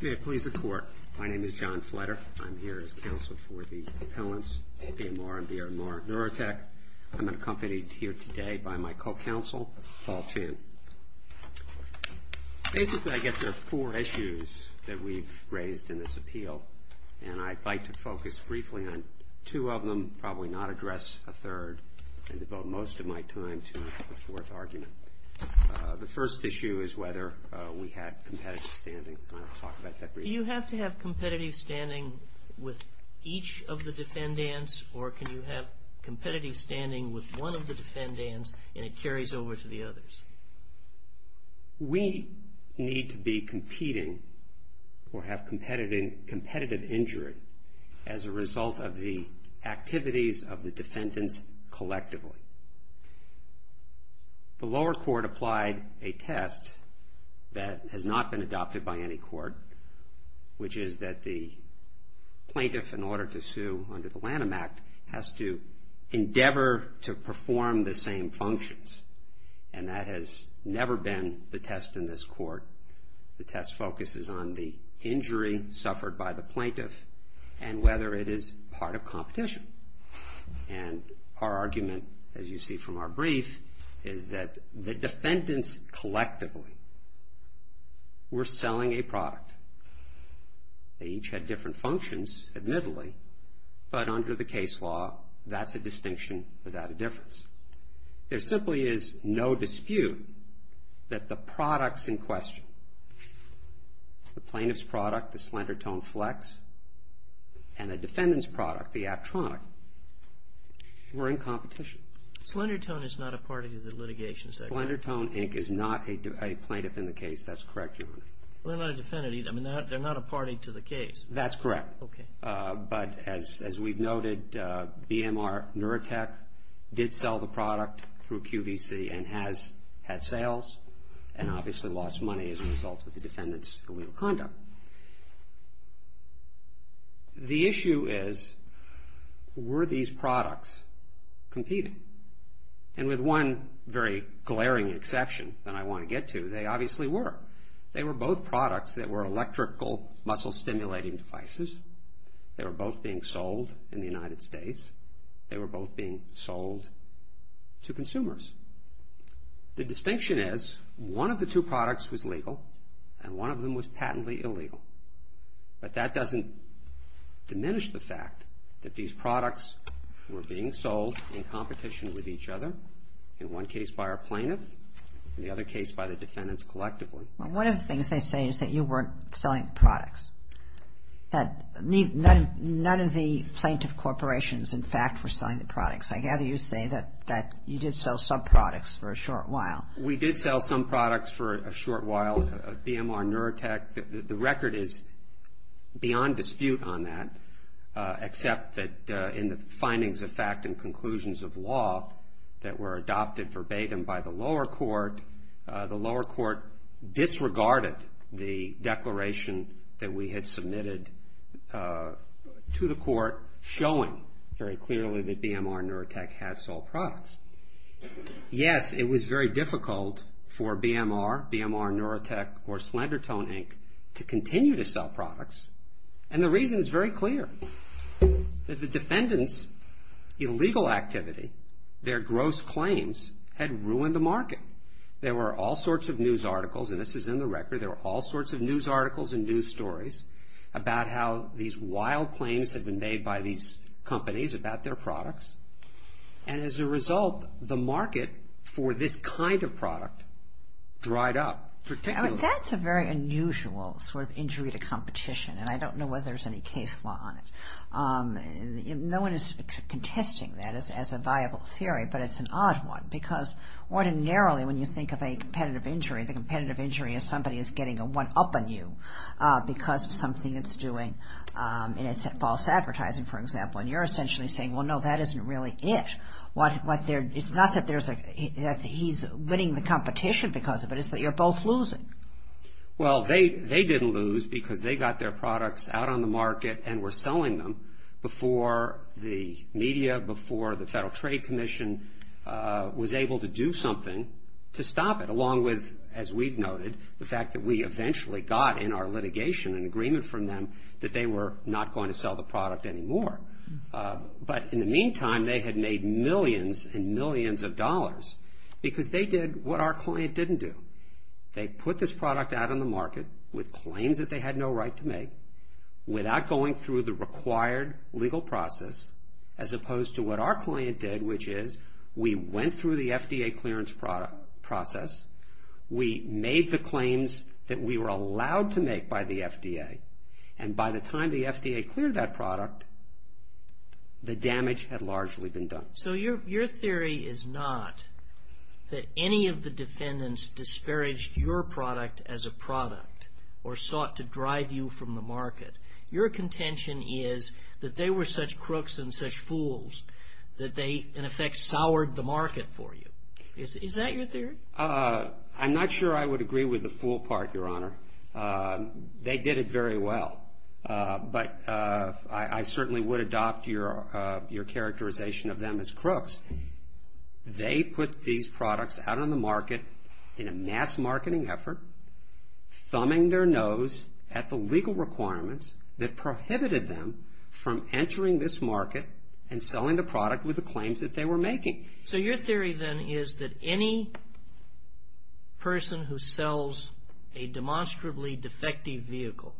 May it please the Court, my name is John Fletter. I'm here as counsel for the appellants, APMR and BRMR Neurotech. I'm accompanied here today by my co-counsel, Paul Chan. Basically I guess there are four issues that we've raised in this appeal and I'd like to focus briefly on two of them, probably not address a third and devote most of my time to the fourth argument. The first issue is whether we have competitive standing. Do you have to have competitive standing with each of the defendants or can you have competitive standing with one of the defendants and it carries over to the others? We need to be competing or have competitive injury as a result of the activities of the defendants collectively. The lower court applied a test that has not been adopted by any court which is that the plaintiff in order to sue under the Lanham Act has to endeavor to perform the same functions and that has never been the test in this court. The test focuses on the injury suffered by the plaintiff and whether it is part of The defendants collectively were selling a product. They each had different functions admittedly, but under the case law that's a distinction without a difference. There simply is no dispute that the products in question, the plaintiff's product, the Slendertone Flex, and the defendant's product, the Aptronic, were in The Slendertone Inc. is not a plaintiff in the case. That's correct, Your Honor. They're not a defendant either. I mean, they're not a party to the case. That's correct. But as we've noted, BMR Neurotech did sell the product through QVC and has had sales and obviously lost money as a result of the defendant's illegal conduct. The issue is, were these products competing? And with one very glaring exception that I want to get to, they obviously were. They were both products that were electrical muscle stimulating devices. They were both being sold in the United States. They were both being sold to consumers. The distinction is, one of the two products was legal and one of them was patently illegal. But that doesn't diminish the fact that these products were being sold in competition with each other, in one case by our plaintiff and the other case by the defendants collectively. Well, one of the things they say is that you weren't selling the products, that none of the plaintiff corporations, in fact, were selling the products. I gather you say that you did sell some products for a short while. We did sell some products for a short while. BMR Neurotech, the record is beyond dispute on that except that in the findings of fact and conclusions of law that were adopted verbatim by the lower court, the lower court disregarded the declaration that we had submitted to the court showing very clearly that BMR Neurotech had sold products. Yes, it was very difficult for BMR, BMR Neurotech or Slender Tone Inc. to continue to sell products and the reason is very clear. That the defendants' illegal activity, their gross claims had ruined the market. There were all sorts of news articles, and this is in the record, there were all sorts of news articles and news stories about how these wild claims had been made by these companies about their products. And as a result, the market for this kind of product dried up. That's a very unusual sort of injury to competition and I don't know whether there's any case law on it. No one is contesting that as a viable theory, but it's an odd one because ordinarily when you think of a competitive injury, the competitive injury is somebody is getting a one-up on you because of something it's doing and it's false advertising, for example, and you're essentially saying, well, no, that isn't really it. It's not that he's winning the competition because of it, it's that you're both losing. Well, they didn't lose because they got their products out on the market and were selling them before the media, before the Federal Trade Commission was able to do something to stop it along with, as we've noted, the fact that we eventually got in our litigation an agreement from them that they were not going to sell the product anymore. But in the meantime, they had made millions and millions of dollars because they did what our client didn't do. They put this product out on the market with claims that they had no right to make without going through the required legal process as opposed to what our client did, which is we went through the FDA clearance process, we made the claims that we were allowed to make by the FDA, and by the time the FDA cleared that product, the damage had largely been done. So your theory is not that any of the defendants disparaged your product as a product or sought to drive you from the market. Your contention is that they were such crooks and such fools that they, in effect, soured the market for you. Is that your theory? I'm not sure I would agree with the fool part, Your Honor. They did it very well. But I certainly would adopt your characterization of them as crooks. They put these products out on the market in a mass marketing effort, thumbing their nose at the legal requirements that prohibited them from entering this market and selling the product with the claims that they were making. So your theory then is that any person who sells a demonstrably defective vehicle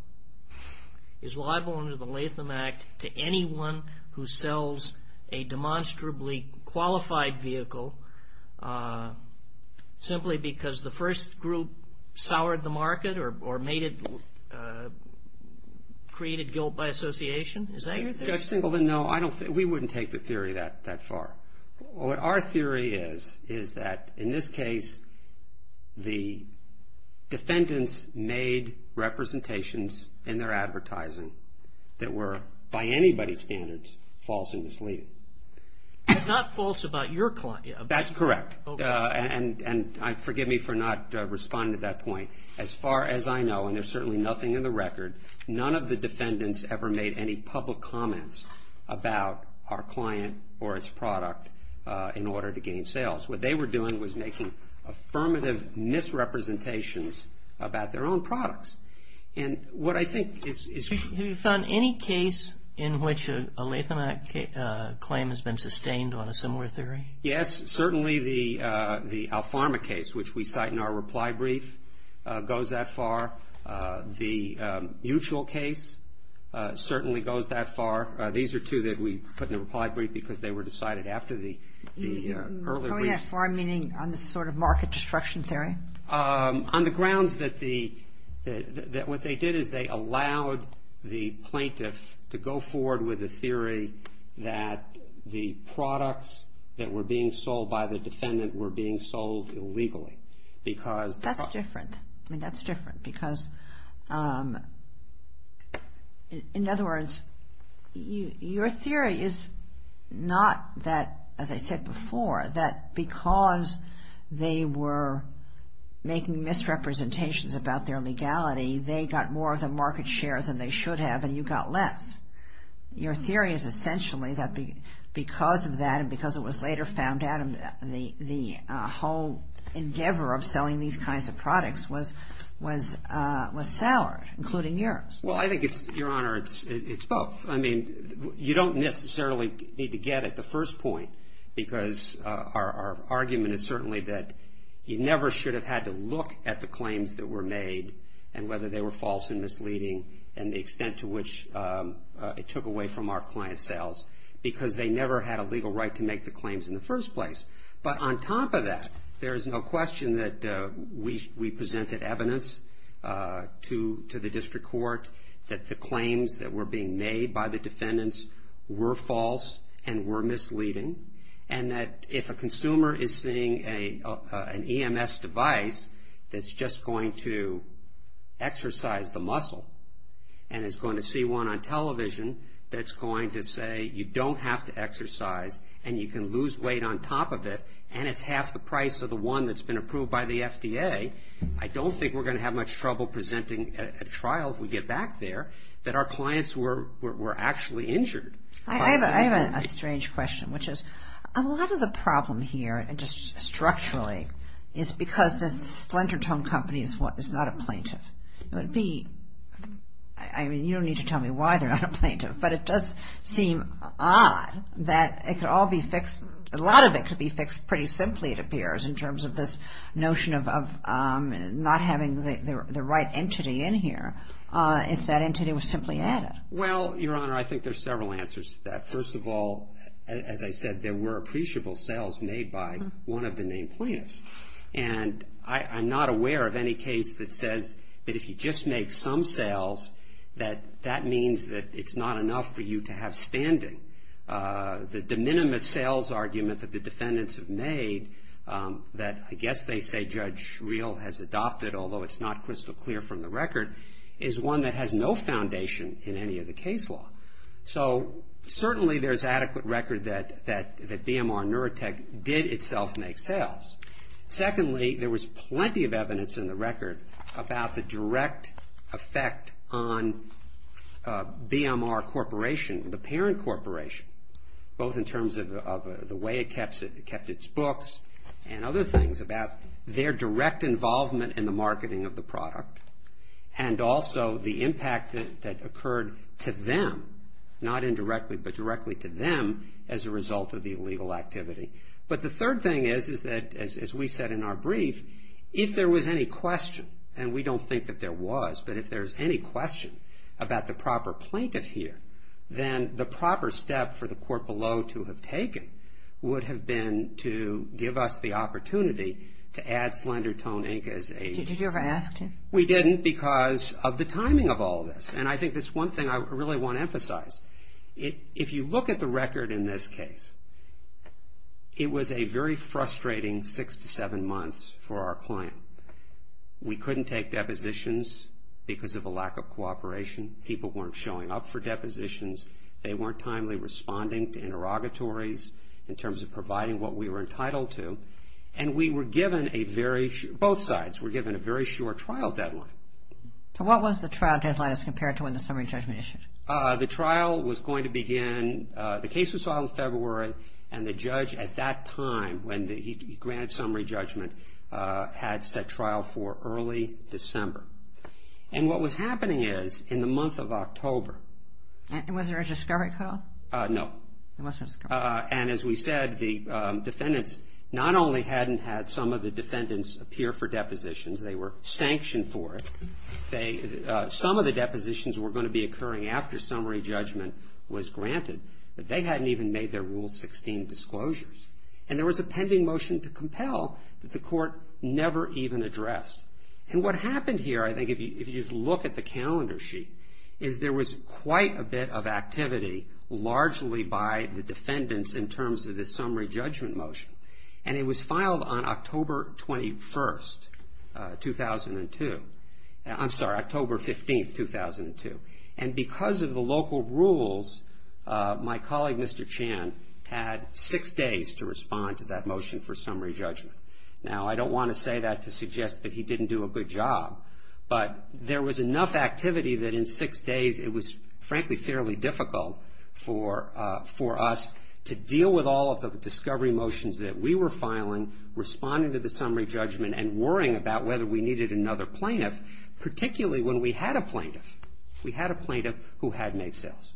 is liable under the Latham Act to anyone who sells a demonstrably qualified vehicle simply because the first group soured the market or created guilt by association? Is that your theory? Judge Singleton, no. We wouldn't take the theory that far. Our theory is that, in this case, the defendants made representations in their advertising that were, by anybody's standards, false and misleading. But not false about your client. That's correct. And forgive me for not responding to that point. As far as I know, and there's certainly nothing in the record, none of the defendants ever made any public comments about our client or its product in order to gain sales. What they were doing was making affirmative misrepresentations about their own products. And what I think is true... Have you found any case in which a Latham Act claim has been sustained on a similar theory? Yes, certainly the Alfarma case, which we cite in our reply brief, goes that far. The Mutual case certainly goes that far. These are two that we put in the reply brief because they were decided after the earlier brief. How are they that far, meaning on this sort of market destruction theory? On the grounds that what they did is they allowed the plaintiff to go forward with a theory that the products that were being sold by the defendant were being sold illegally because... That's different. I mean, that's different because, in other words, your theory is not that, as I said before, that because they were making misrepresentations about their legality, they got more of the market share than they should have and you got less. Your theory is essentially that because of that and because it was later found out, the whole endeavor of selling these kinds of products was soured, including yours. Well, I think, Your Honor, it's both. I mean, you don't necessarily need to get at the first point because our argument is certainly that you never should have had to look at the claims that were made and whether they were false and misleading and the extent to which it took away from our client sales because they never had a legal right to make the claims in the first place. But on top of that, there is no question that we presented evidence to the district court that the claims that were being made by the defendants were false and were misleading and that if a consumer is seeing an EMS device that's just going to exercise the muscle and is going to see one on television that's going to say you don't have to exercise and you can lose weight on top of it and it's half the price of the one that's been approved by the FDA, I don't think we're going to have much trouble presenting a trial if we get back there that our clients were actually injured. I have a strange question, which is a lot of the problem here, just structurally, is because the splinter tongue company is not a plaintiff. It would be, I mean, you don't need to tell me why they're not a plaintiff, but it does seem odd that it could all be fixed. A lot of it could be fixed pretty simply it appears in terms of this notion of not having the right entity in here if that entity was simply added. Well, Your Honor, I think there's several answers to that. First of all, as I said, there were appreciable sales made by one of the named plaintiffs and I'm not aware of any case that says that if you just make some sales, that that means that it's not enough for you to have standing. The de minimis sales argument that the defendants have made that I guess they say Judge Schreel has adopted, although it's not crystal clear from the record, is one that has no foundation in any of the case law. So, certainly there's adequate record that BMR Neurotech did itself make sales. Secondly, there was plenty of evidence in the record about the direct effect on BMR Corporation, the parent corporation, both in terms of the way it kept its books and other things, about their direct involvement in the marketing of the product and also the impact that occurred to them, not indirectly, but directly to them as a result of the illegal activity. But the third thing is that, as we said in our brief, if there was any question, and we don't think that there was, but if there's any question about the proper plaintiff here, then the proper step for the court below to have taken would have been to give us the opportunity to add Slender Tone Inc. as a... Did you ever ask to? We didn't because of the timing of all this. And I think that's one thing I really want to emphasize. If you look at the record in this case, it was a very frustrating six to seven months for our client. We couldn't take depositions because of a lack of cooperation. People weren't showing up for depositions. They weren't timely responding to interrogatories in terms of providing what we were entitled to. And we were given a very... Both sides were given a very short trial deadline. So what was the trial deadline as compared to when the summary judgment issued? The trial was going to begin... The case was filed in February, and the judge at that time, when he granted summary judgment, had set trial for early December. And what was happening is, in the month of October... And was there a discovery cutoff? No. There was no discovery. And as we said, the defendants not only hadn't had some of the defendants appear for depositions, they were sanctioned for it. Some of the depositions were going to be occurring after summary judgment was granted, but they hadn't even made their Rule 16 disclosures. And there was a pending motion to compel that the court never even addressed. And what happened here, I think, if you just look at the calendar sheet, is there was quite a bit of activity, largely by the defendants, in terms of the summary judgment motion. And it was filed on October 21, 2002. I'm sorry, October 15, 2002. And because of the local rules, my colleague, Mr. Chan, had six days to respond to that motion for summary judgment. Now, I don't want to say that to suggest that he didn't do a good job, but there was enough activity that in six days it was, frankly, fairly difficult for us to deal with all of the discovery motions that we were filing, responding to the summary judgment, and worrying about whether we needed another plaintiff, particularly when we had a plaintiff. We had a plaintiff who had made sales.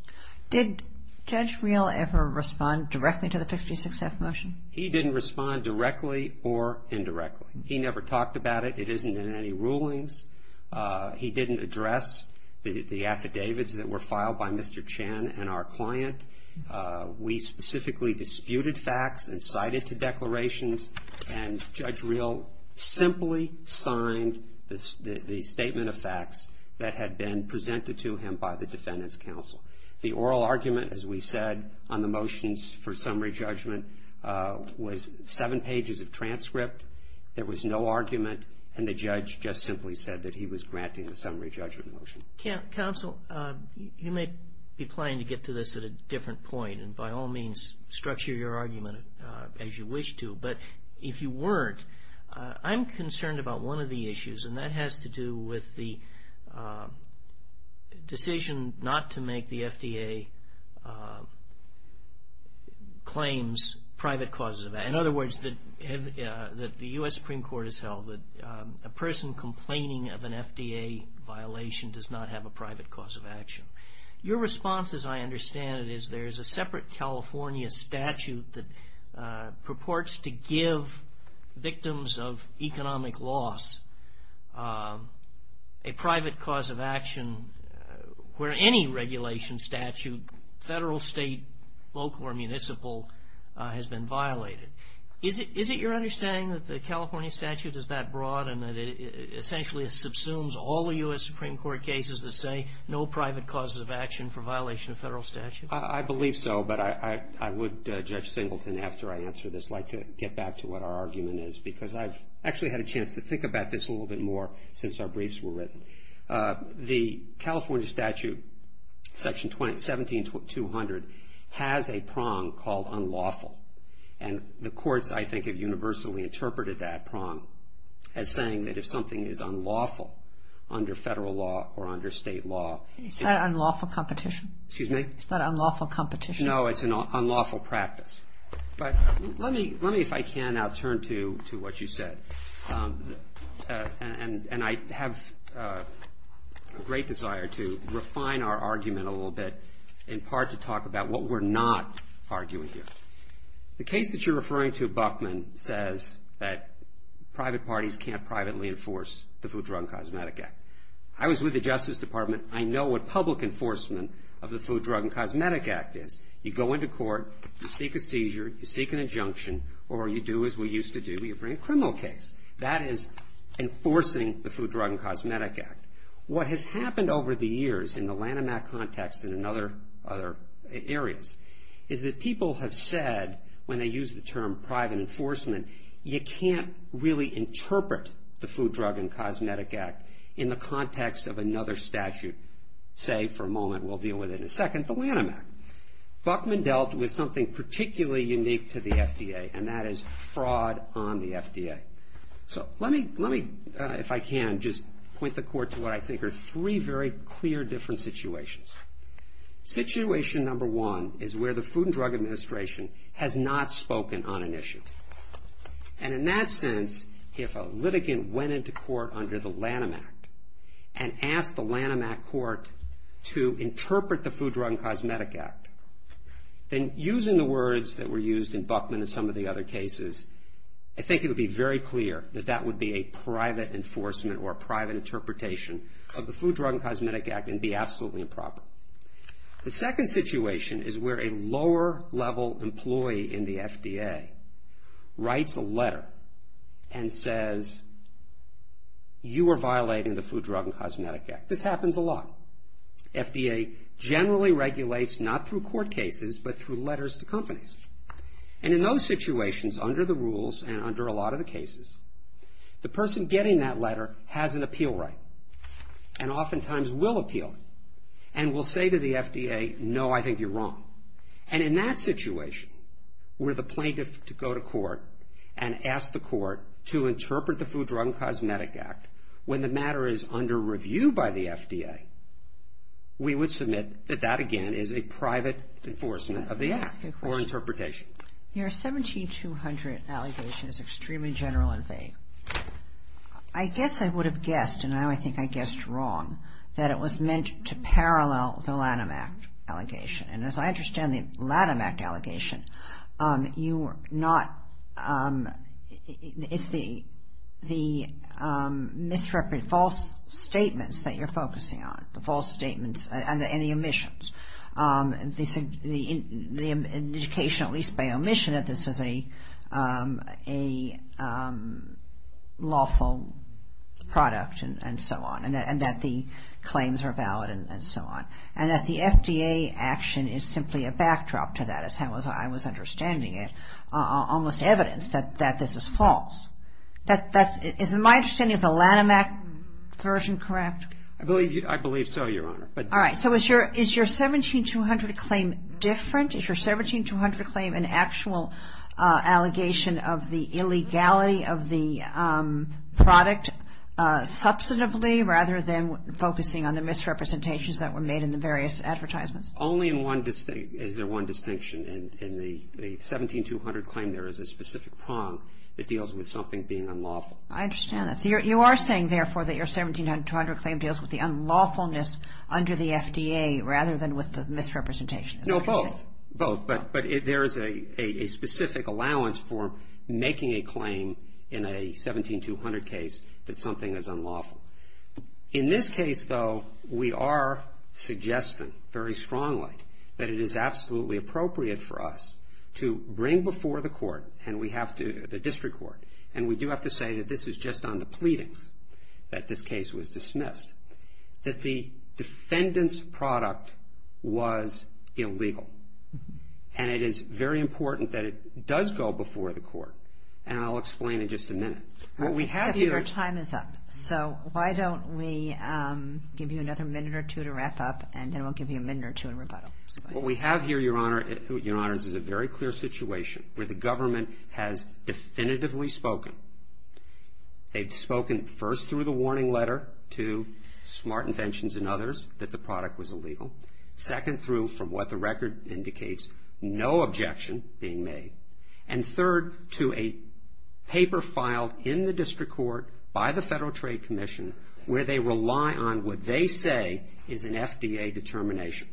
Did Judge Reel ever respond directly to the 56F motion? He didn't respond directly or indirectly. He never talked about it. It isn't in any rulings. He didn't address the affidavits that were filed by Mr. Chan and our client. We specifically disputed facts and cited to declarations, and Judge Reel simply signed the statement of facts that had been presented to him by the defendants' counsel. The oral argument, as we said, on the motions for summary judgment was seven pages of transcript. There was no argument, and the judge just simply said that he was granting the summary judgment motion. Counsel, you may be planning to get to this at a different point, and by all means structure your argument as you wish to. But if you weren't, I'm concerned about one of the issues, and that has to do with the decision not to make the FDA claims private causes of action. In other words, that the U.S. Supreme Court has held that a person complaining of an FDA violation does not have a private cause of action. Your response, as I understand it, is there is a separate California statute that purports to give victims of economic loss a private cause of action where any regulation statute, federal, state, local, or municipal, has been violated. Is it your understanding that the California statute is that broad and that it essentially subsumes all the U.S. Supreme Court cases that say no private causes of action for violation of federal statute? I believe so, but I would, Judge Singleton, after I answer this, like to get back to what our argument is because I've actually had a chance to think about this a little bit more since our briefs were written. The California statute, section 17-200, has a prong called unlawful. And the courts, I think, have universally interpreted that prong as saying that if something is unlawful under federal law or under state law. Is that unlawful competition? Excuse me? Is that unlawful competition? No, it's an unlawful practice. But let me, if I can, now turn to what you said. And I have a great desire to refine our argument a little bit, in part to talk about what we're not arguing here. The case that you're referring to, Buckman, says that private parties can't privately enforce the Food, Drug, and Cosmetic Act. I was with the Justice Department. I know what public enforcement of the Food, Drug, and Cosmetic Act is. You go into court, you seek a seizure, you seek an injunction, or you do as we used to do, you bring a criminal case. That is enforcing the Food, Drug, and Cosmetic Act. What has happened over the years in the Lanham Act context and in other areas, is that people have said, when they use the term private enforcement, you can't really interpret the Food, Drug, and Cosmetic Act in the context of another statute. Say, for a moment, we'll deal with it in a second, the Lanham Act. Buckman dealt with something particularly unique to the FDA, and that is fraud on the FDA. Let me, if I can, just point the court to what I think are three very clear different situations. Situation number one is where the Food and Drug Administration has not spoken on an issue. In that sense, if a litigant went into court under the Lanham Act and asked the Lanham Act court to interpret the Food, Drug, and Cosmetic Act, then using the words that were used in Buckman and some of the other cases, I think it would be very clear that that would be a private enforcement or a private interpretation of the Food, Drug, and Cosmetic Act and be absolutely improper. The second situation is where a lower-level employee in the FDA writes a letter and says, you are violating the Food, Drug, and Cosmetic Act. This happens a lot. FDA generally regulates not through court cases but through letters to companies. And in those situations, under the rules and under a lot of the cases, the person getting that letter has an appeal right and oftentimes will appeal and will say to the FDA, no, I think you're wrong. If a litigant went into court and asked the court to interpret the Food, Drug, and Cosmetic Act when the matter is under review by the FDA, we would submit that that, again, is a private enforcement of the act or interpretation. Your 17200 allegation is extremely general in faith. I guess I would have guessed, and I think I guessed wrong, that it was meant to parallel the Lanham Act allegation. And as I understand the Lanham Act allegation, it's the misrepresentation, false statements that you're focusing on, the false statements and the omissions. The indication, at least by omission, that this is a lawful product and so on and that the claims are valid and so on. And that the FDA action is simply a backdrop to that, as I was understanding it, almost evidence that this is false. Is my understanding of the Lanham Act version correct? I believe so, Your Honor. All right. So is your 17200 claim different? Is your 17200 claim an actual allegation of the illegality of the product substantively rather than focusing on the misrepresentations that were made in the various advertisements? Only in one distinction. Is there one distinction? In the 17200 claim, there is a specific prong that deals with something being unlawful. I understand that. So you are saying, therefore, that your 17200 claim deals with the unlawfulness under the FDA rather than with the misrepresentation? No, both. Both. But there is a specific allowance for making a claim in a 17200 case that something is unlawful. In this case, though, we are suggesting very strongly that it is absolutely appropriate for us to bring before the court and we have to, the district court, and we do have to say that this is just on the pleadings that this case was dismissed, that the defendant's product was illegal. And it is very important that it does go before the court. And I'll explain in just a minute. Except your time is up. So why don't we give you another minute or two to wrap up and then we'll give you a minute or two in rebuttal. What we have here, Your Honor, is a very clear situation where the government has definitively spoken. They've spoken first through the warning letter to Smart Inventions and others that the product was illegal. Second, through from what the record indicates, no objection being made. And third, to a paper filed in the district court by the Federal Trade Commission where they rely on what they say is an FDA determination.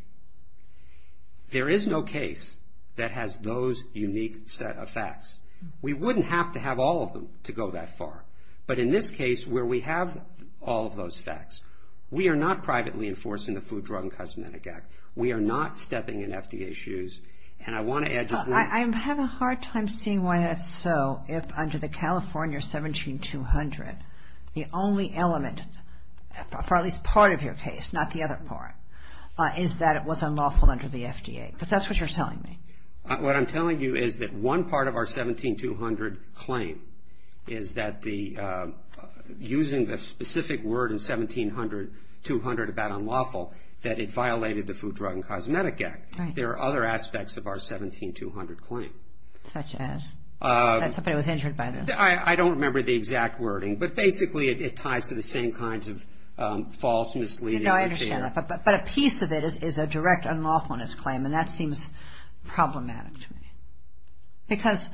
There is no case that has those unique set of facts. We wouldn't have to have all of them to go that far. But in this case where we have all of those facts, we are not privately enforcing the Food, Drug, and Cosmetic Act. We are not stepping in FDA's shoes. And I want to add just one. I'm having a hard time seeing why that's so if under the California 17-200, the only element for at least part of your case, not the other part, is that it was unlawful under the FDA. Because that's what you're telling me. What I'm telling you is that one part of our 17-200 claim is that the, using the specific word in 17-200 about unlawful, that it violated the Food, Drug, and Cosmetic Act. Right. There are other aspects of our 17-200 claim. Such as? That somebody was injured by this? I don't remember the exact wording. But basically it ties to the same kinds of false, misleading, unfair. No, I understand that. But a piece of it is a direct unlawfulness claim. And that seems problematic to me. Because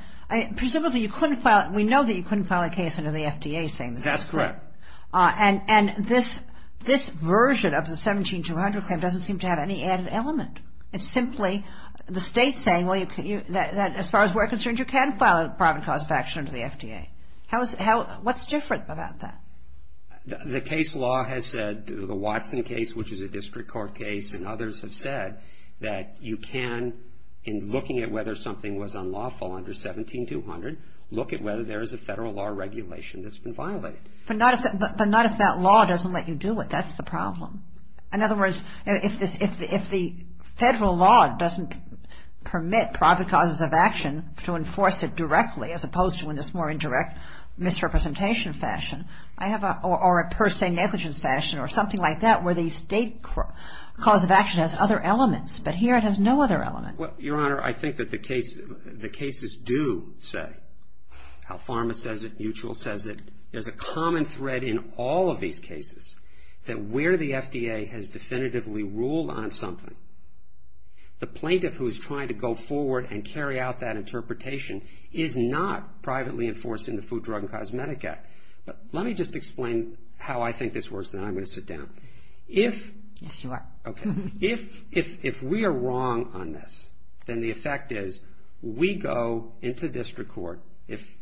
presumably you couldn't file it. We know that you couldn't file a case under the FDA saying this is correct. That's correct. And this version of the 17-200 claim doesn't seem to have any added element. It's simply the state saying, well, as far as we're concerned, you can file a private cause of action under the FDA. What's different about that? The case law has said, the Watson case, which is a district court case, and others have said that you can, in looking at whether something was unlawful under 17-200, look at whether there is a federal law regulation that's been violated. But not if that law doesn't let you do it. That's the problem. In other words, if the federal law doesn't permit private causes of action to enforce it directly, as opposed to in this more indirect misrepresentation fashion, or a per se negligence fashion or something like that, where the state cause of action has other elements. But here it has no other element. Well, Your Honor, I think that the cases do say, how Pharma says it, Mutual says it, there's a common thread in all of these cases, that where the FDA has definitively ruled on something, the plaintiff who is trying to go forward and carry out that interpretation is not privately enforced in the Food, Drug, and Cosmetic Act. But let me just explain how I think this works, and then I'm going to sit down. If... Yes, you are. Okay. If we are wrong on this, then the effect is we go into district court, if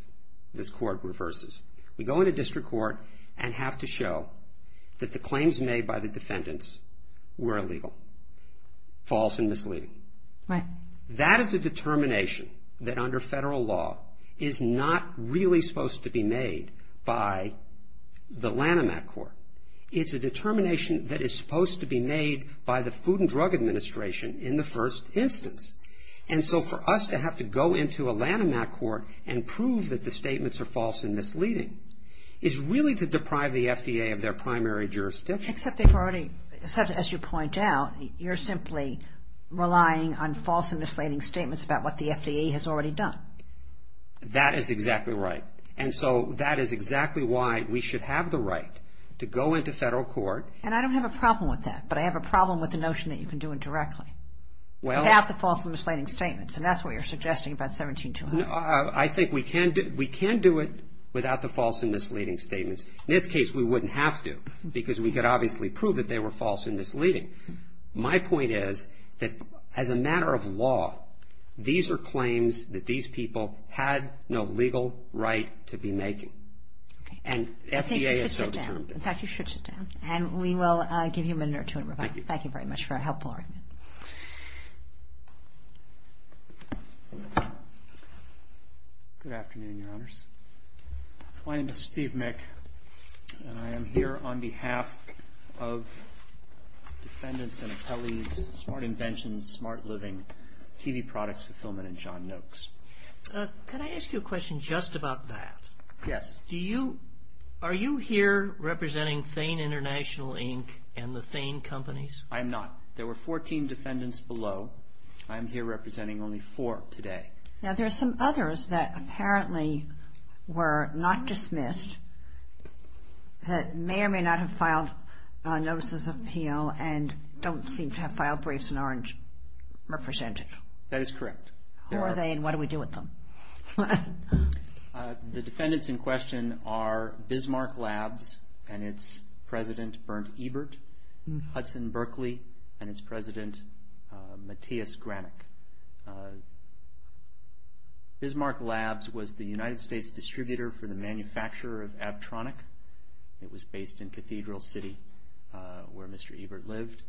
this court reverses, we go into district court and have to show that the claims made by the defendants were illegal, false and misleading. Right. That is a determination that under federal law is not really supposed to be made by the Lanham Act court. It's a determination that is supposed to be made by the Food and Drug Administration in the first instance. And so for us to have to go into a Lanham Act court and prove that the statements are false and misleading is really to deprive the FDA of their primary jurisdiction. Except they've already, as you point out, you're simply relying on false and misleading statements about what the FDA has already done. That is exactly right. And so that is exactly why we should have the right to go into federal court. And I don't have a problem with that, but I have a problem with the notion that you can do it directly. Well... Without the false and misleading statements, and that's what you're suggesting about 17200. I think we can do it without the false and misleading statements. In this case, we wouldn't have to because we could obviously prove that they were false and misleading. My point is that as a matter of law, these are claims that these people had no legal right to be making. Okay. And FDA is so determined. I think you should sit down. In fact, you should sit down. And we will give you a minute or two in rebuttal. Thank you. Thank you very much for a helpful argument. Good afternoon, Your Honors. My name is Steve Mick, and I am here on behalf of defendants and appellees, Smart Inventions, Smart Living, TV Products Fulfillment, and John Noakes. Could I ask you a question just about that? Yes. Are you here representing Thane International Inc. and the Thane companies? I am not. There were 14 defendants below. I am here representing only four today. Now, there are some others that apparently were not dismissed that may or may not have filed notices of appeal and don't seem to have filed briefs and aren't represented. That is correct. Who are they and what do we do with them? The defendants in question are Bismarck Labs and its president, Bernd Ebert, Hudson Berkeley, and its president, Matthias Granick. Bismarck Labs was the United States distributor for the manufacturer of Abtronic. It was based in Cathedral City where Mr. Ebert lived.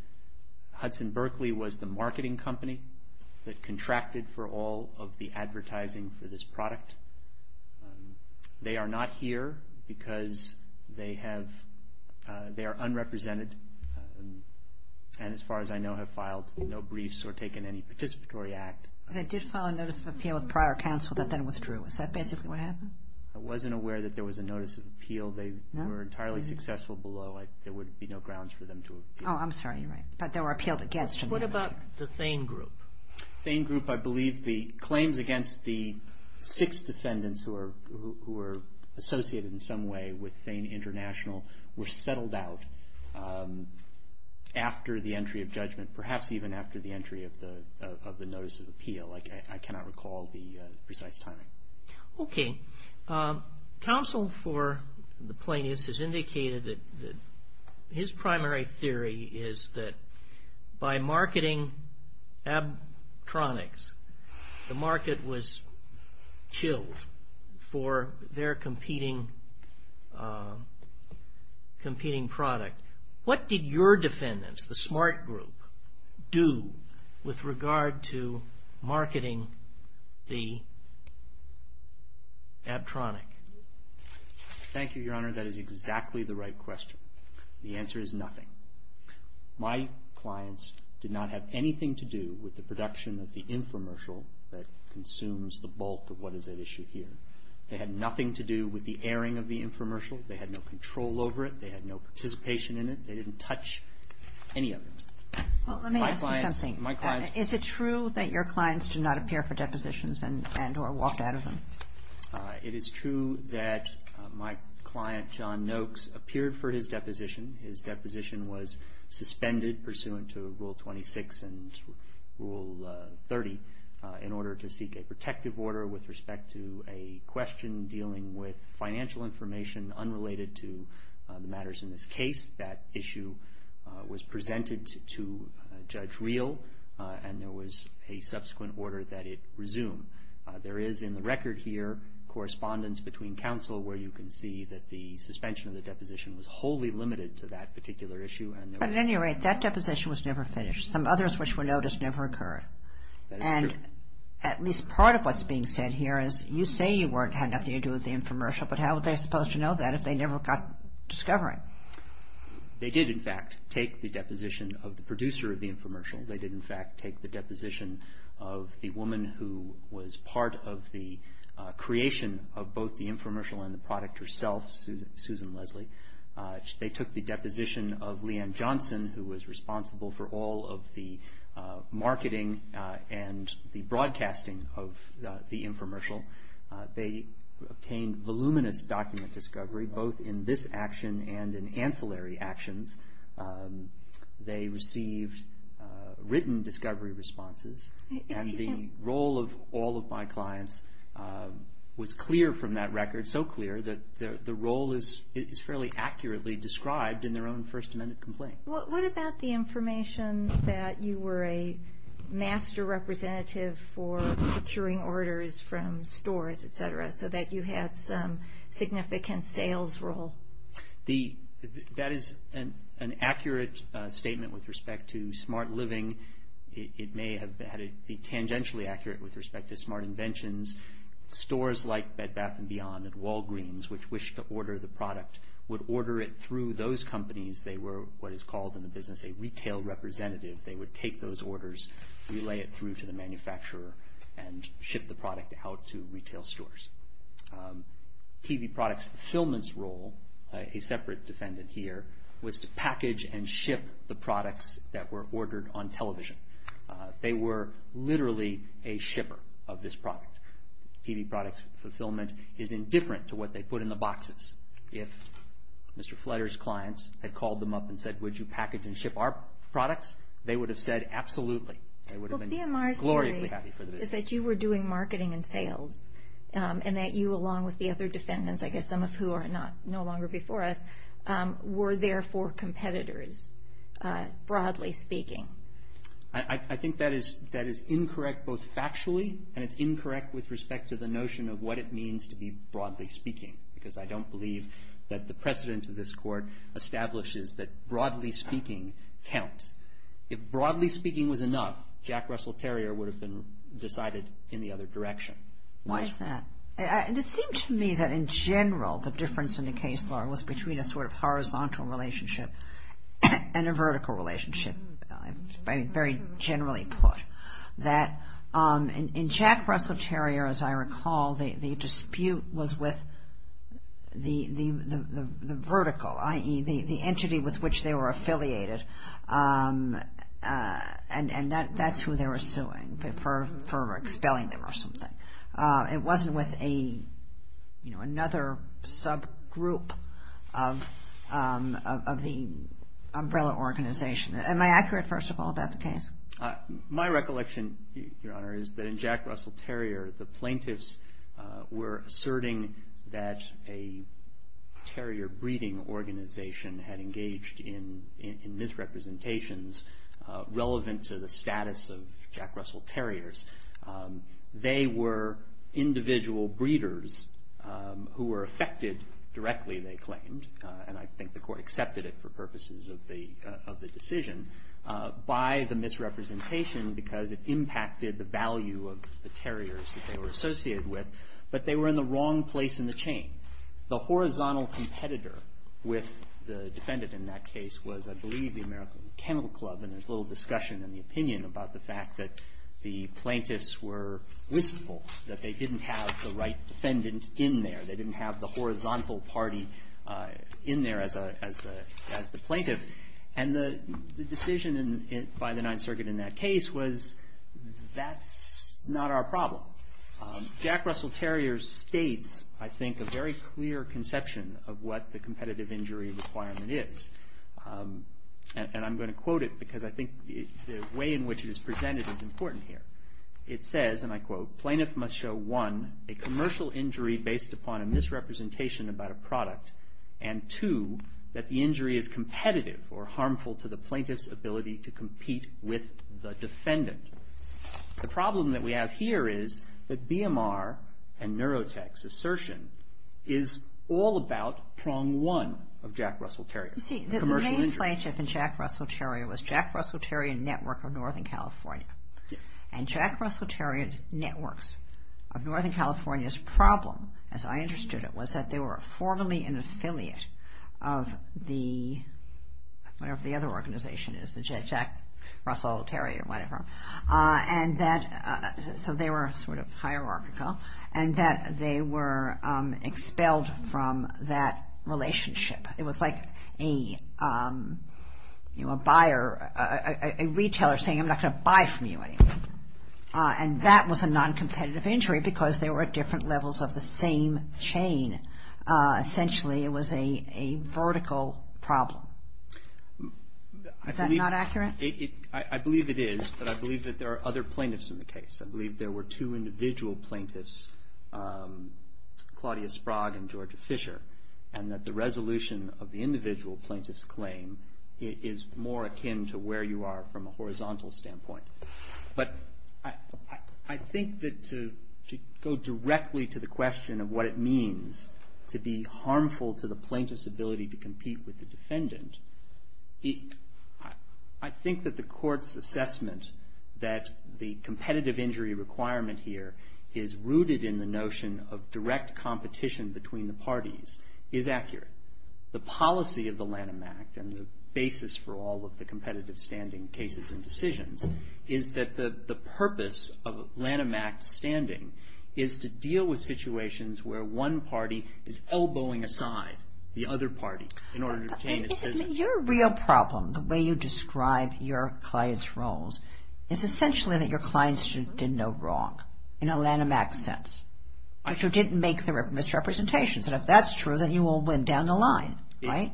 Hudson Berkeley was the marketing company that contracted for all of the advertising for this product. They are not here because they are unrepresented and, as far as I know, have filed no briefs or taken any participatory act. They did file a notice of appeal with prior counsel that then withdrew. Is that basically what happened? I wasn't aware that there was a notice of appeal. They were entirely successful below. There would be no grounds for them to appeal. Oh, I'm sorry. You're right. But they were appealed against. What about the Thane Group? The Thane Group, I believe the claims against the six defendants who were associated in some way with Thane International were settled out after the entry of judgment, perhaps even after the entry of the notice of appeal. I cannot recall the precise timing. Okay. Counsel for the plaintiffs has indicated that his primary theory is that by marketing Abtronics, the market was chilled for their competing product. What did your defendants, the Smart Group, do with regard to marketing the Abtronic? Thank you, Your Honor. That is exactly the right question. The answer is nothing. My clients did not have anything to do with the production of the infomercial that consumes the bulk of what is at issue here. They had nothing to do with the airing of the infomercial. They had no control over it. They had no participation in it. They didn't touch any of it. Well, let me ask you something. My clients Is it true that your clients did not appear for depositions and or walked out of them? It is true that my client, John Noakes, appeared for his deposition. His deposition was suspended pursuant to Rule 26 and Rule 30 in order to seek a protective order with respect to a question dealing with financial information unrelated to the matters in this case. That issue was presented to Judge Reel, and there was a subsequent order that it resumed. There is, in the record here, correspondence between counsel where you can see that the suspension of the deposition was wholly limited to that particular issue. At any rate, that deposition was never finished. Some others which were noticed never occurred. That is true. At least part of what is being said here is you say you had nothing to do with the infomercial, but how were they supposed to know that if they never got discovery? They did, in fact, take the deposition of the producer of the infomercial. They did, in fact, take the deposition of the woman who was part of the creation of both the infomercial and the product herself, Susan Leslie. They took the deposition of Leanne Johnson, who was responsible for all of the marketing and the broadcasting of the infomercial. They obtained voluminous document discovery, both in this action and in ancillary actions. They received written discovery responses. The role of all of my clients was clear from that record, so clear that the role is fairly accurately described in their own First Amendment complaint. What about the information that you were a master representative for procuring orders from stores, etc., so that you had some significant sales role? That is an accurate statement with respect to smart living. It may have had to be tangentially accurate with respect to smart inventions. Stores like Bed Bath & Beyond and Walgreens, which wished to order the product, would order it through those companies. They were what is called in the business a retail representative. They would take those orders, relay it through to the manufacturer, and ship the product out to retail stores. TV product fulfillment's role, a separate defendant here, was to package and ship the products that were ordered on television. They were literally a shipper of this product. TV product fulfillment is indifferent to what they put in the boxes. If Mr. Fletcher's clients had called them up and said, would you package and ship our products, they would have said, absolutely. They would have been gloriously happy for the business. Well, PMR's theory is that you were doing marketing and sales, and that you, along with the other defendants, I guess some of who are no longer before us, were therefore competitors, broadly speaking. I think that is incorrect both factually, and it's incorrect with respect to the notion of what it means to be broadly speaking, because I don't believe that the precedent of this court establishes that broadly speaking counts. If broadly speaking was enough, Jack Russell Terrier would have been decided in the other direction. Why is that? It seemed to me that in general, the difference in the case law was between a sort of horizontal relationship and a vertical relationship, very generally put. In Jack Russell Terrier, as I recall, the dispute was with the vertical, i.e., the entity with which they were affiliated, and that's who they were suing for expelling them or something. It wasn't with another subgroup of the umbrella organization. Am I accurate, first of all, about the case? My recollection, Your Honor, is that in Jack Russell Terrier, the plaintiffs were asserting that a terrier breeding organization had engaged in misrepresentations relevant to the status of Jack Russell Terriers. They were individual breeders who were affected directly, they claimed, and I think the court accepted it for purposes of the decision, by the misrepresentation because it impacted the value of the terriers that they were associated with, but they were in the wrong place in the chain. The horizontal competitor with the defendant in that case was, I believe, the American Kennel Club, and there's a little discussion in the opinion about the fact that the plaintiffs were wistful, that they didn't have the right defendant in there. They didn't have the horizontal party in there as the plaintiff, and the decision by the Ninth Circuit in that case was that's not our problem. Jack Russell Terrier states, I think, a very clear conception of what the competitive injury requirement is, and I'm going to quote it because I think the way in which it is presented is important here. It says, and I quote, Plaintiff must show one, a commercial injury based upon a misrepresentation about a product, and two, that the injury is competitive or harmful to the plaintiff's ability to compete with the defendant. The problem that we have here is that BMR and Neurotech's assertion is all about prong one of Jack Russell Terrier. You see, the main plaintiff in Jack Russell Terrier was Jack Russell Terrier Network of Northern California, and Jack Russell Terrier Networks of Northern California's problem, as I understood it, was that they were formerly an affiliate of the, whatever the other organization is, the Jack Russell Terrier, whatever, and that, so they were sort of hierarchical, and that they were expelled from that relationship. It was like a, you know, a buyer, a retailer saying, I'm not going to buy from you anymore, and that was a noncompetitive injury because they were at different levels of the same chain. Essentially, it was a vertical problem. Is that not accurate? I believe it is, but I believe that there are other plaintiffs in the case. I believe there were two individual plaintiffs, Claudia Sprague and Georgia Fisher, and that the resolution of the individual plaintiff's claim is more akin to where you are from a horizontal standpoint. But I think that to go directly to the question of what it means to be harmful to the plaintiff's ability to compete with the defendant, I think that the court's assessment that the competitive injury requirement here is rooted in the notion of direct competition between the parties is accurate. The policy of the Lanham Act and the basis for all of the competitive standing cases and decisions is that the purpose of Lanham Act standing is to deal with situations where one party is elbowing aside the other party in order to obtain its business. Your real problem, the way you describe your clients' roles, is essentially that your clients did no wrong in a Lanham Act sense, but you didn't make the misrepresentations. And if that's true, then you will win down the line, right?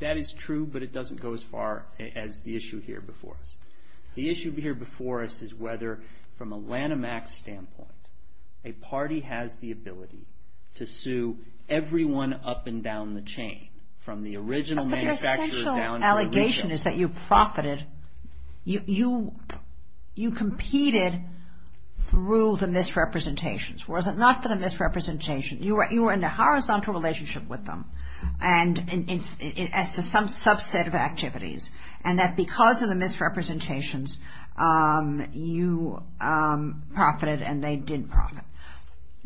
That is true, but it doesn't go as far as the issue here before us. The issue here before us is whether, from a Lanham Act standpoint, a party has the ability to sue everyone up and down the chain, from the original manufacturer down to the region. My observation is that you profited. You competed through the misrepresentations. Was it not for the misrepresentations? You were in a horizontal relationship with them as to some subset of activities and that because of the misrepresentations, you profited and they didn't profit.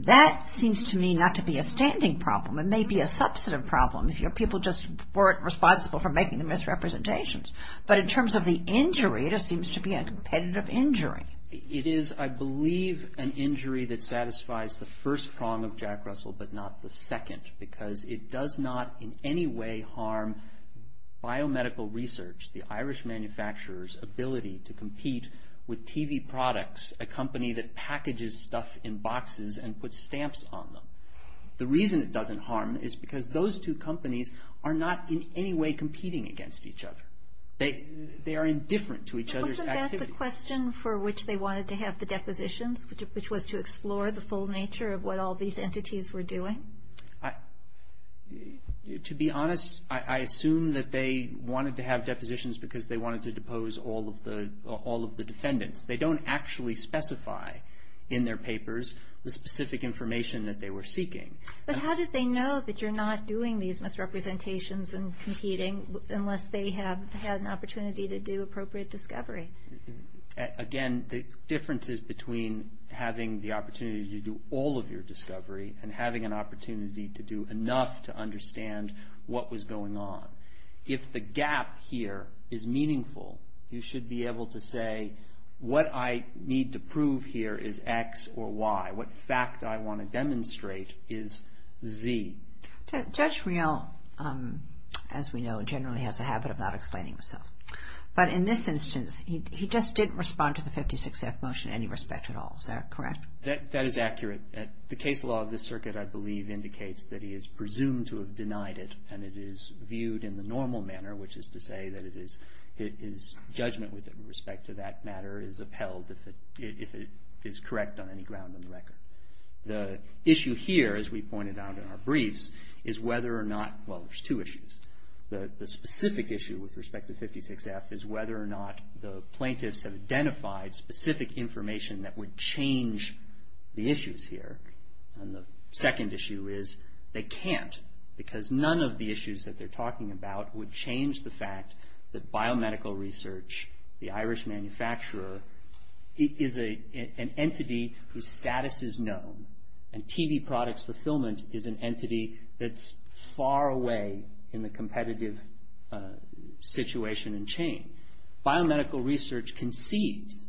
That seems to me not to be a standing problem. It may be a substantive problem. People just weren't responsible for making the misrepresentations. But in terms of the injury, it seems to be a competitive injury. It is, I believe, an injury that satisfies the first prong of Jack Russell but not the second because it does not in any way harm biomedical research, the Irish manufacturer's ability to compete with TV products, a company that packages stuff in boxes and puts stamps on them. The reason it doesn't harm is because those two companies are not in any way competing against each other. They are indifferent to each other's activity. Wasn't that the question for which they wanted to have the depositions, which was to explore the full nature of what all these entities were doing? To be honest, I assume that they wanted to have depositions because they wanted to depose all of the defendants. They don't actually specify in their papers the specific information that they were seeking. But how did they know that you're not doing these misrepresentations and competing unless they have had an opportunity to do appropriate discovery? Again, the difference is between having the opportunity to do all of your discovery and having an opportunity to do enough to understand what was going on. If the gap here is meaningful, you should be able to say, what I need to prove here is X or Y. What fact I want to demonstrate is Z. Judge Riehl, as we know, generally has a habit of not explaining himself. But in this instance, he just didn't respond to the 56-F motion in any respect at all. Is that correct? That is accurate. The case law of this circuit, I believe, indicates that he is presumed to have denied it, and it is viewed in the normal manner, which is to say that his judgment with respect to that matter is upheld if it is correct on any ground on the record. The issue here, as we pointed out in our briefs, is whether or not, well, there's two issues. The specific issue with respect to 56-F is whether or not the plaintiffs have identified specific information that would change the issues here. And the second issue is they can't, because none of the issues that they're talking about would change the fact that biomedical research, the Irish manufacturer, is an entity whose status is known, and TV product fulfillment is an entity that's far away in the competitive situation and chain. Biomedical research concedes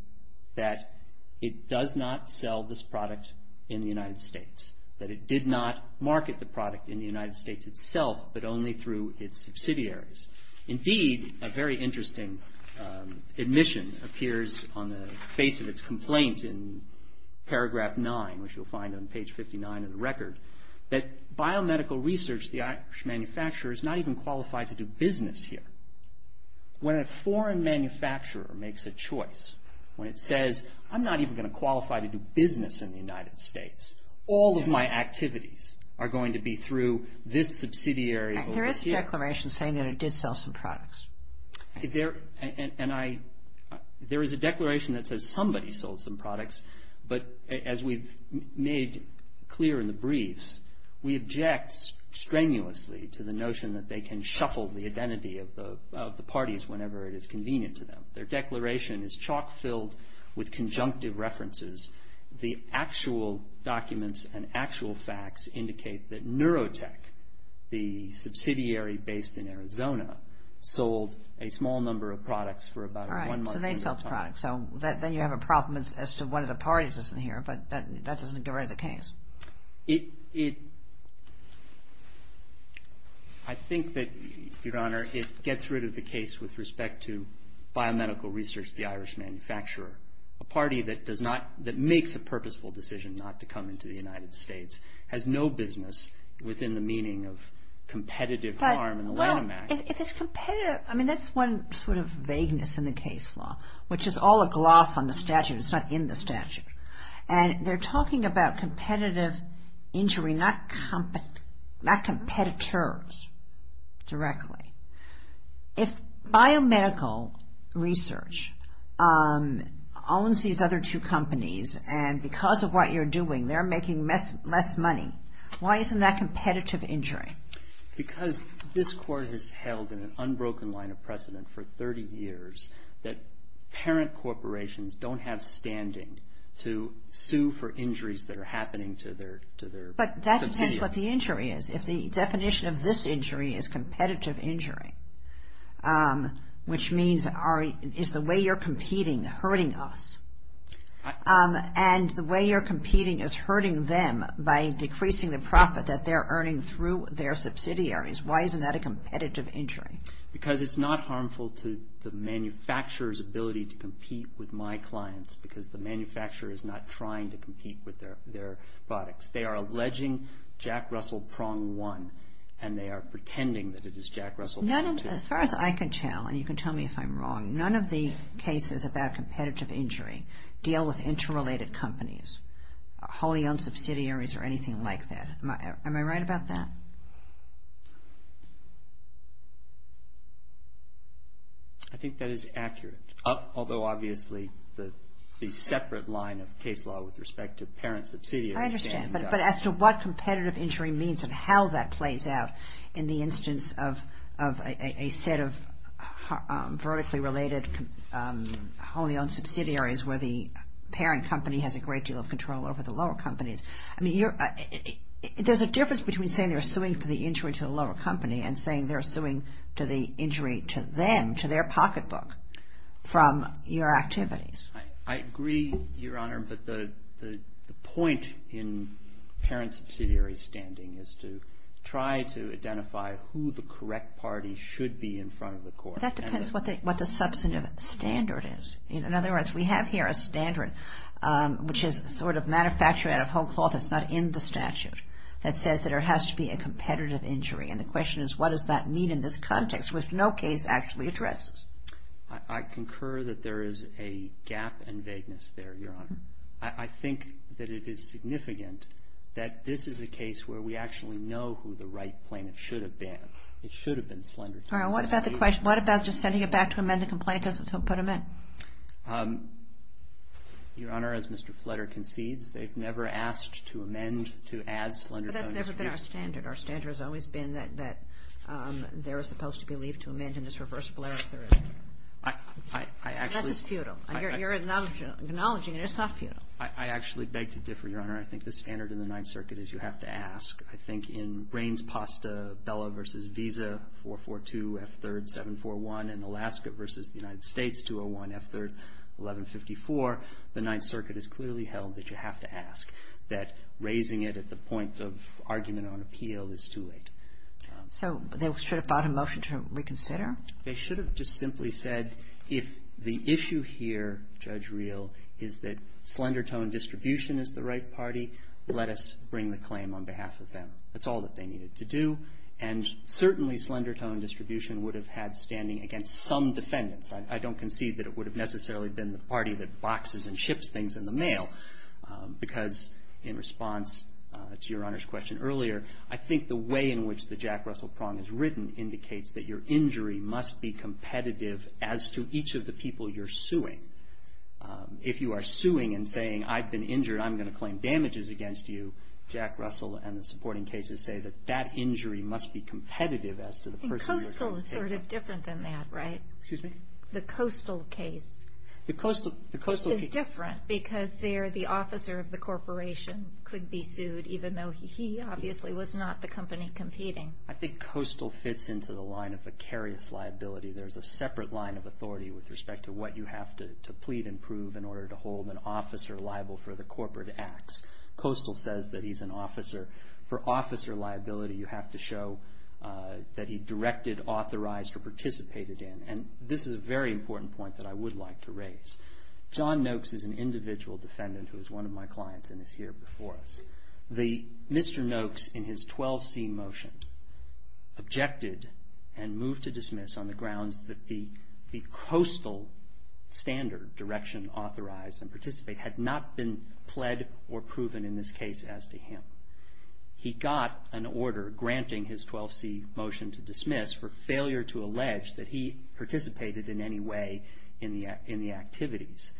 that it does not sell this product in the United States, that it did not market the product in the United States itself, but only through its subsidiaries. Indeed, a very interesting admission appears on the face of its complaint in paragraph 9, which you'll find on page 59 of the record, that biomedical research, the Irish manufacturer, is not even qualified to do business here. When a foreign manufacturer makes a choice, when it says, I'm not even going to qualify to do business in the United States, all of my activities are going to be through this subsidiary over here. There is a declaration saying that it did sell some products. There is a declaration that says somebody sold some products, but as we've made clear in the briefs, we object strenuously to the notion that they can shuffle the identity of the parties whenever it is convenient to them. Their declaration is chalk filled with conjunctive references. The actual documents and actual facts indicate that Neurotech, the subsidiary based in Arizona, sold a small number of products for about one month. All right, so they sold products. So then you have a problem as to when the parties is in here, but that doesn't get rid of the case. It, I think that, Your Honor, it gets rid of the case with respect to biomedical research, the Irish manufacturer, a party that does not, that makes a purposeful decision not to come into the United States, has no business within the meaning of competitive harm in the Lanham Act. Well, if it's competitive, I mean that's one sort of vagueness in the case law, which is all a gloss on the statute. It's not in the statute. And they're talking about competitive injury, not competitors directly. If biomedical research owns these other two companies and because of what you're doing they're making less money, why isn't that competitive injury? Because this Court has held in an unbroken line of precedent for 30 years that parent corporations don't have standing to sue for injuries that are happening to their subsidiaries. But that depends what the injury is. If the definition of this injury is competitive injury, which means is the way you're competing hurting us, and the way you're competing is hurting them by decreasing the profit that they're earning through their subsidiaries, why isn't that a competitive injury? Because it's not harmful to the manufacturer's ability to compete with my clients because the manufacturer is not trying to compete with their products. They are alleging Jack Russell prong one and they are pretending that it is Jack Russell prong two. As far as I can tell, and you can tell me if I'm wrong, none of the cases about competitive injury deal with interrelated companies, wholly owned subsidiaries or anything like that. Am I right about that? I think that is accurate. Although obviously the separate line of case law with respect to parent subsidiaries. I understand, but as to what competitive injury means and how that plays out in the instance of a set of vertically related wholly owned subsidiaries where the parent company has a great deal of control over the lower companies. I mean, there's a difference between saying they're suing for the injury to the lower company and saying they're suing to the injury to them, to their pocketbook from your activities. I agree, Your Honor, but the point in parent subsidiary standing is to try to identify who the correct party should be in front of the court. That depends what the substantive standard is. In other words, we have here a standard which is sort of manufactured out of whole cloth. It's not in the statute that says that there has to be a competitive injury, and the question is what does that mean in this context which no case actually addresses? I concur that there is a gap in vagueness there, Your Honor. I think that it is significant that this is a case where we actually know who the right plaintiff should have been. It should have been Slenderton. All right. What about the question? What about just sending it back to amend the complaint to put him in? Your Honor, as Mr. Flutter concedes, they've never asked to amend to add Slenderton. But that's never been our standard. Our standard has always been that they're supposed to be leaved to amend in this reversible error theory. Unless it's futile. You're acknowledging it. It's not futile. I actually beg to differ, Your Honor. I think the standard in the Ninth Circuit is you have to ask. I think in brains pasta, Bella versus Visa, 442, F3rd, 741, and Alaska versus the United States, 201, F3rd, 1154, the Ninth Circuit has clearly held that you have to ask, that raising it at the point of argument on appeal is too late. So they should have brought a motion to reconsider? They should have just simply said if the issue here, Judge Reel, is that Slenderton distribution is the right party, let us bring the claim on behalf of them. That's all that they needed to do. And certainly Slenderton distribution would have had standing against some defendants. I don't concede that it would have necessarily been the party that boxes and ships things in the mail, because in response to Your Honor's question earlier, I think the way in which the Jack Russell prong is written indicates that your injury must be competitive as to each of the people you're suing. If you are suing and saying, I've been injured, I'm going to claim damages against you, Jack Russell and the supporting cases say that that injury must be competitive as to the person you're going to take on. And Coastal is sort of different than that, right? Excuse me? The Coastal case is different, because there the officer of the corporation could be sued, even though he obviously was not the company competing. I think Coastal fits into the line of vicarious liability. There's a separate line of authority with respect to what you have to plead and prove in order to hold an officer liable for the corporate acts. Coastal says that he's an officer. For officer liability, you have to show that he directed, authorized, or participated in. And this is a very important point that I would like to raise. John Noakes is an individual defendant who is one of my clients and is here before us. Mr. Noakes, in his 12C motion, objected and moved to dismiss on the grounds that the Coastal standard, direction, authorized, and participate, had not been pled or proven in this case as to him. He got an order granting his 12C motion to dismiss for failure to allege that he participated in any way in the activities.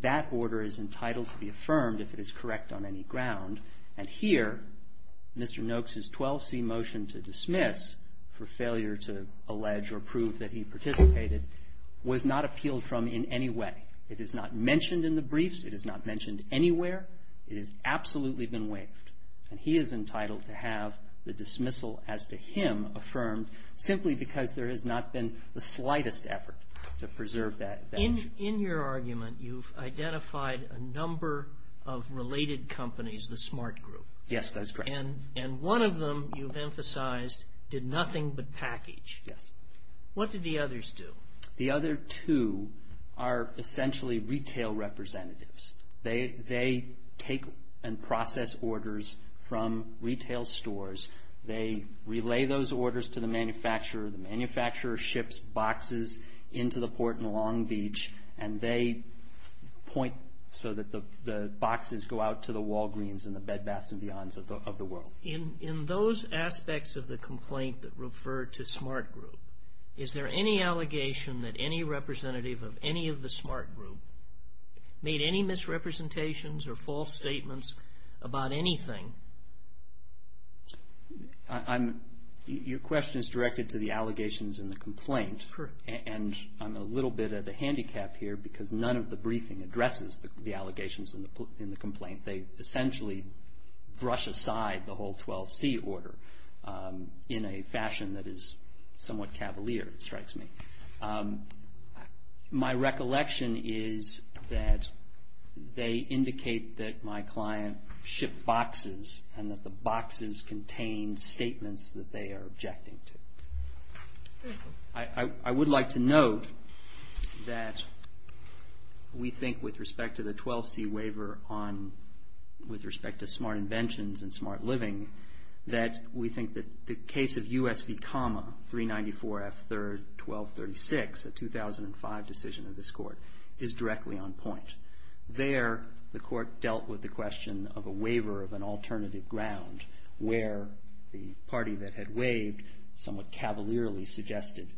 That order is entitled to be affirmed if it is correct on any ground. And here, Mr. Noakes' 12C motion to dismiss for failure to allege or prove that he participated was not appealed from in any way. It is not mentioned in the briefs. It is not mentioned anywhere. It has absolutely been waived. And he is entitled to have the dismissal as to him affirmed, simply because there has not been the slightest effort to preserve that motion. In your argument, you've identified a number of related companies, the smart group. Yes, that's correct. And one of them, you've emphasized, did nothing but package. Yes. What did the others do? The other two are essentially retail representatives. They take and process orders from retail stores. They relay those orders to the manufacturer. The manufacturer ships boxes into the port in Long Beach, and they point so that the boxes go out to the Walgreens and the Bed Baths and Beyonds of the world. In those aspects of the complaint that referred to smart group, is there any allegation that any representative of any of the smart group made any misrepresentations or false statements about anything? Your question is directed to the allegations in the complaint. And I'm a little bit of a handicap here, because none of the briefing addresses the allegations in the complaint. They essentially brush aside the whole 12C order in a fashion that is somewhat cavalier, it strikes me. My recollection is that they indicate that my client shipped boxes and that the boxes contained statements that they are objecting to. I would like to note that we think with respect to the 12C waiver on, with respect to smart inventions and smart living, that we think that the case of USV comma 394F third 1236, a 2005 decision of this court, is directly on point. There, the court dealt with the question of a waiver of an alternative ground where the party that had waived somewhat cavalierly suggested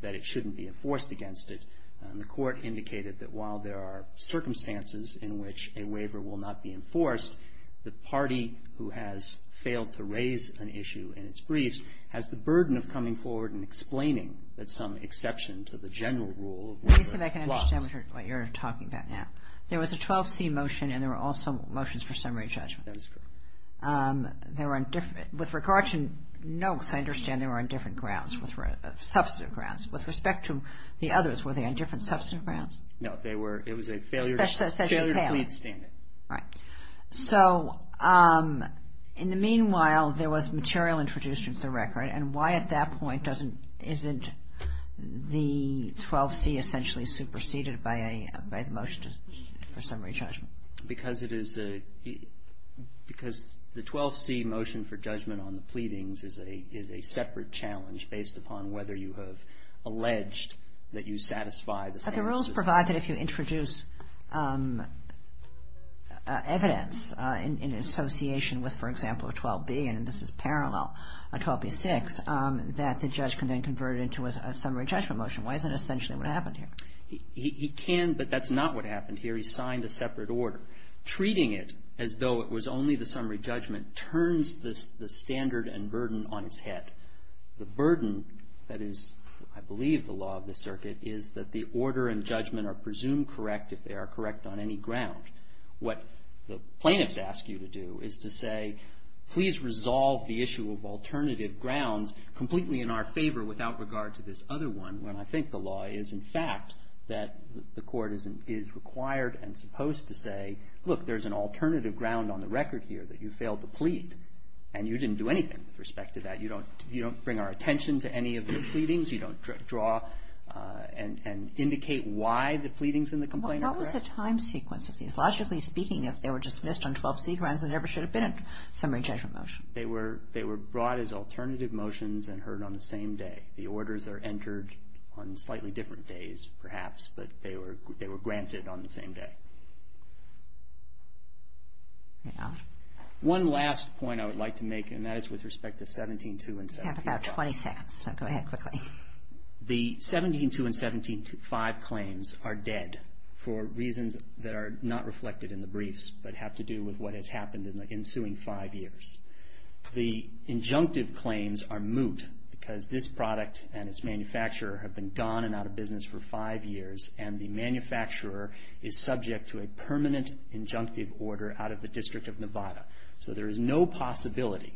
that it shouldn't be enforced against it. And the court indicated that while there are circumstances in which a waiver will not be enforced, the party who has failed to raise an issue in its briefs has the burden of coming forward and explaining that some exception to the general rule of waiver applies. Let me see if I can understand what you're talking about now. There was a 12C motion and there were also motions for summary judgment. That is correct. With regard to notes, I understand they were on different grounds, substantive grounds. With respect to the others, were they on different substantive grounds? No. It was a failure to plead standard. All right. So in the meanwhile, there was material introduced into the record, and why at that point isn't the 12C essentially superseded by the motion for summary judgment? Because the 12C motion for judgment on the pleadings is a separate challenge based upon whether you have alleged that you satisfy the standards. But the rules provide that if you introduce evidence in association with, for example, a 12B, and this is parallel, a 12B6, that the judge can then convert it into a summary judgment motion. Why isn't it essentially what happened here? He can, but that's not what happened here. He signed a separate order. Treating it as though it was only the summary judgment turns the standard and burden on its head. The burden that is, I believe, the law of the circuit is that the order and judgment are presumed correct if they are correct on any ground. What the plaintiffs ask you to do is to say, please resolve the issue of alternative grounds completely in our favor without regard to this other one, when I think the law is in fact that the court is required and supposed to say, look, there's an alternative ground on the record here that you failed to plead, and you didn't do anything with respect to that. You don't bring our attention to any of the pleadings. You don't draw and indicate why the pleadings in the complaint are correct. What was the time sequence of these? Logically speaking, if they were dismissed on 12C grounds, they never should have been a summary judgment motion. They were brought as alternative motions and heard on the same day. The orders are entered on slightly different days, perhaps, but they were granted on the same day. One last point I would like to make, and that is with respect to 17-2 and 17-5. We have about 20 seconds, so go ahead quickly. The 17-2 and 17-5 claims are dead for reasons that are not reflected in the briefs but have to do with what has happened in the ensuing five years. The injunctive claims are moot because this product and its manufacturer have been gone and out of business for five years, and the manufacturer is subject to a permanent injunctive order out of the District of Nevada. So there is no possibility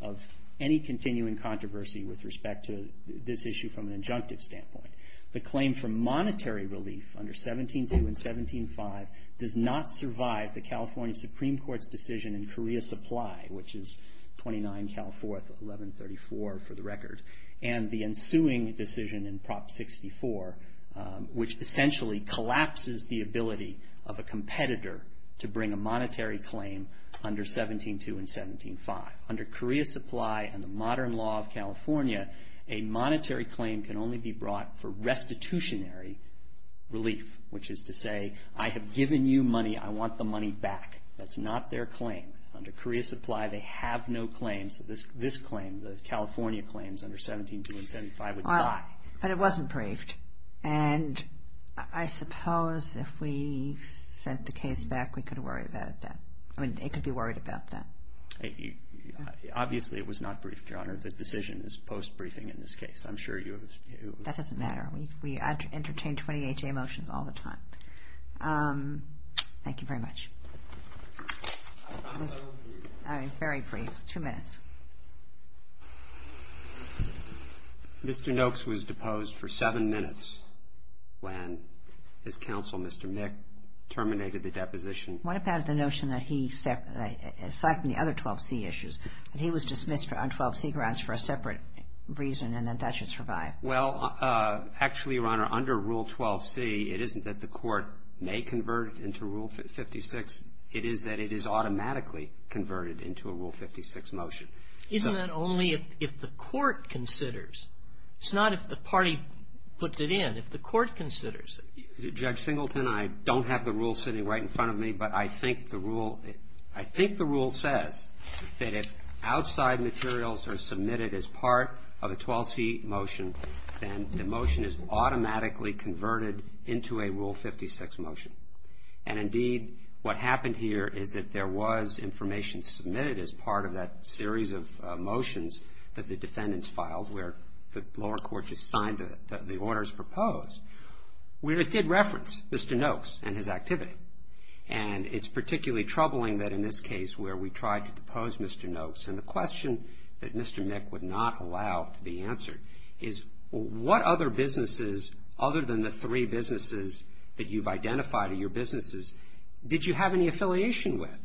of any continuing controversy with respect to this issue from an injunctive standpoint. The claim for monetary relief under 17-2 and 17-5 does not survive the California Supreme Court's decision in Korea Supply, which is 29 Cal 4th, 1134 for the record, and the ensuing decision in Prop 64, which essentially collapses the ability of a competitor to bring a monetary claim under 17-2 and 17-5. Under Korea Supply and the modern law of California, a monetary claim can only be brought for restitutionary relief, which is to say, I have given you money, I want the money back. That's not their claim. Under Korea Supply, they have no claim, so this claim, the California claims under 17-2 and 17-5 would die. But it wasn't briefed. And I suppose if we sent the case back, we could worry about that. I mean, it could be worried about that. Obviously, it was not briefed, Your Honor. The decision is post-briefing in this case. I'm sure you have a view. That doesn't matter. We entertain 20HA motions all the time. Thank you very much. I promise I won't be brief. All right. Very brief. Two minutes. Mr. Noakes was deposed for seven minutes when his counsel, Mr. Mick, terminated the deposition. What about the notion that he, aside from the other 12C issues, that he was dismissed on 12C grounds for a separate reason and that that should survive? Well, actually, Your Honor, under Rule 12C, it isn't that the court may convert it into Rule 56. It is that it is automatically converted into a Rule 56 motion. Isn't that only if the court considers? It's not if the party puts it in. If the court considers. Judge Singleton, I don't have the rule sitting right in front of me, but I think the rule says that if outside materials are submitted as part of a 12C motion, then the motion is automatically converted into a Rule 56 motion. And, indeed, what happened here is that there was information submitted as part of that series of motions that the defendants filed where the lower court just signed the orders proposed. It did reference Mr. Noakes and his activity. And it's particularly troubling that in this case where we tried to depose Mr. Noakes, and the question that Mr. Mick would not allow to be answered is, what other businesses, other than the three businesses that you've identified in your businesses, did you have any affiliation with?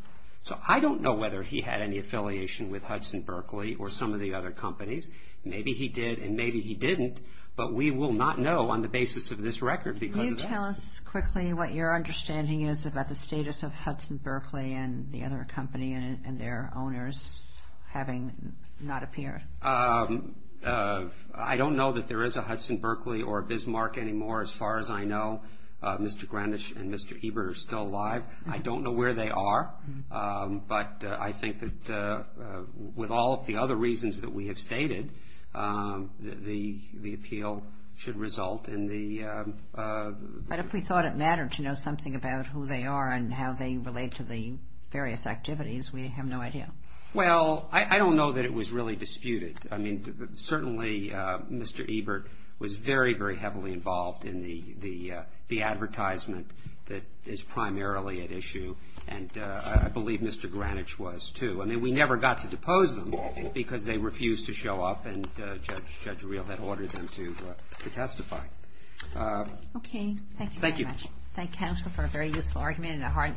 So I don't know whether he had any affiliation with Hudson Berkeley or some of the other companies. Maybe he did and maybe he didn't, but we will not know on the basis of this record. Can you tell us quickly what your understanding is about the status of Hudson Berkeley and the other company and their owners having not appeared? I don't know that there is a Hudson Berkeley or a Bismarck anymore. As far as I know, Mr. Greenish and Mr. Eber are still alive. I don't know where they are. But I think that with all of the other reasons that we have stated, the appeal should result in the ---- But if we thought it mattered to know something about who they are and how they relate to the various activities, we have no idea. Well, I don't know that it was really disputed. I mean, certainly Mr. Ebert was very, very heavily involved in the advertisement that is primarily at issue. And I believe Mr. Greenish was too. I mean, we never got to depose them because they refused to show up and Judge Reel had ordered them to testify. Thank you very much. Thank you. I thank counsel for a very useful argument and a hard interview.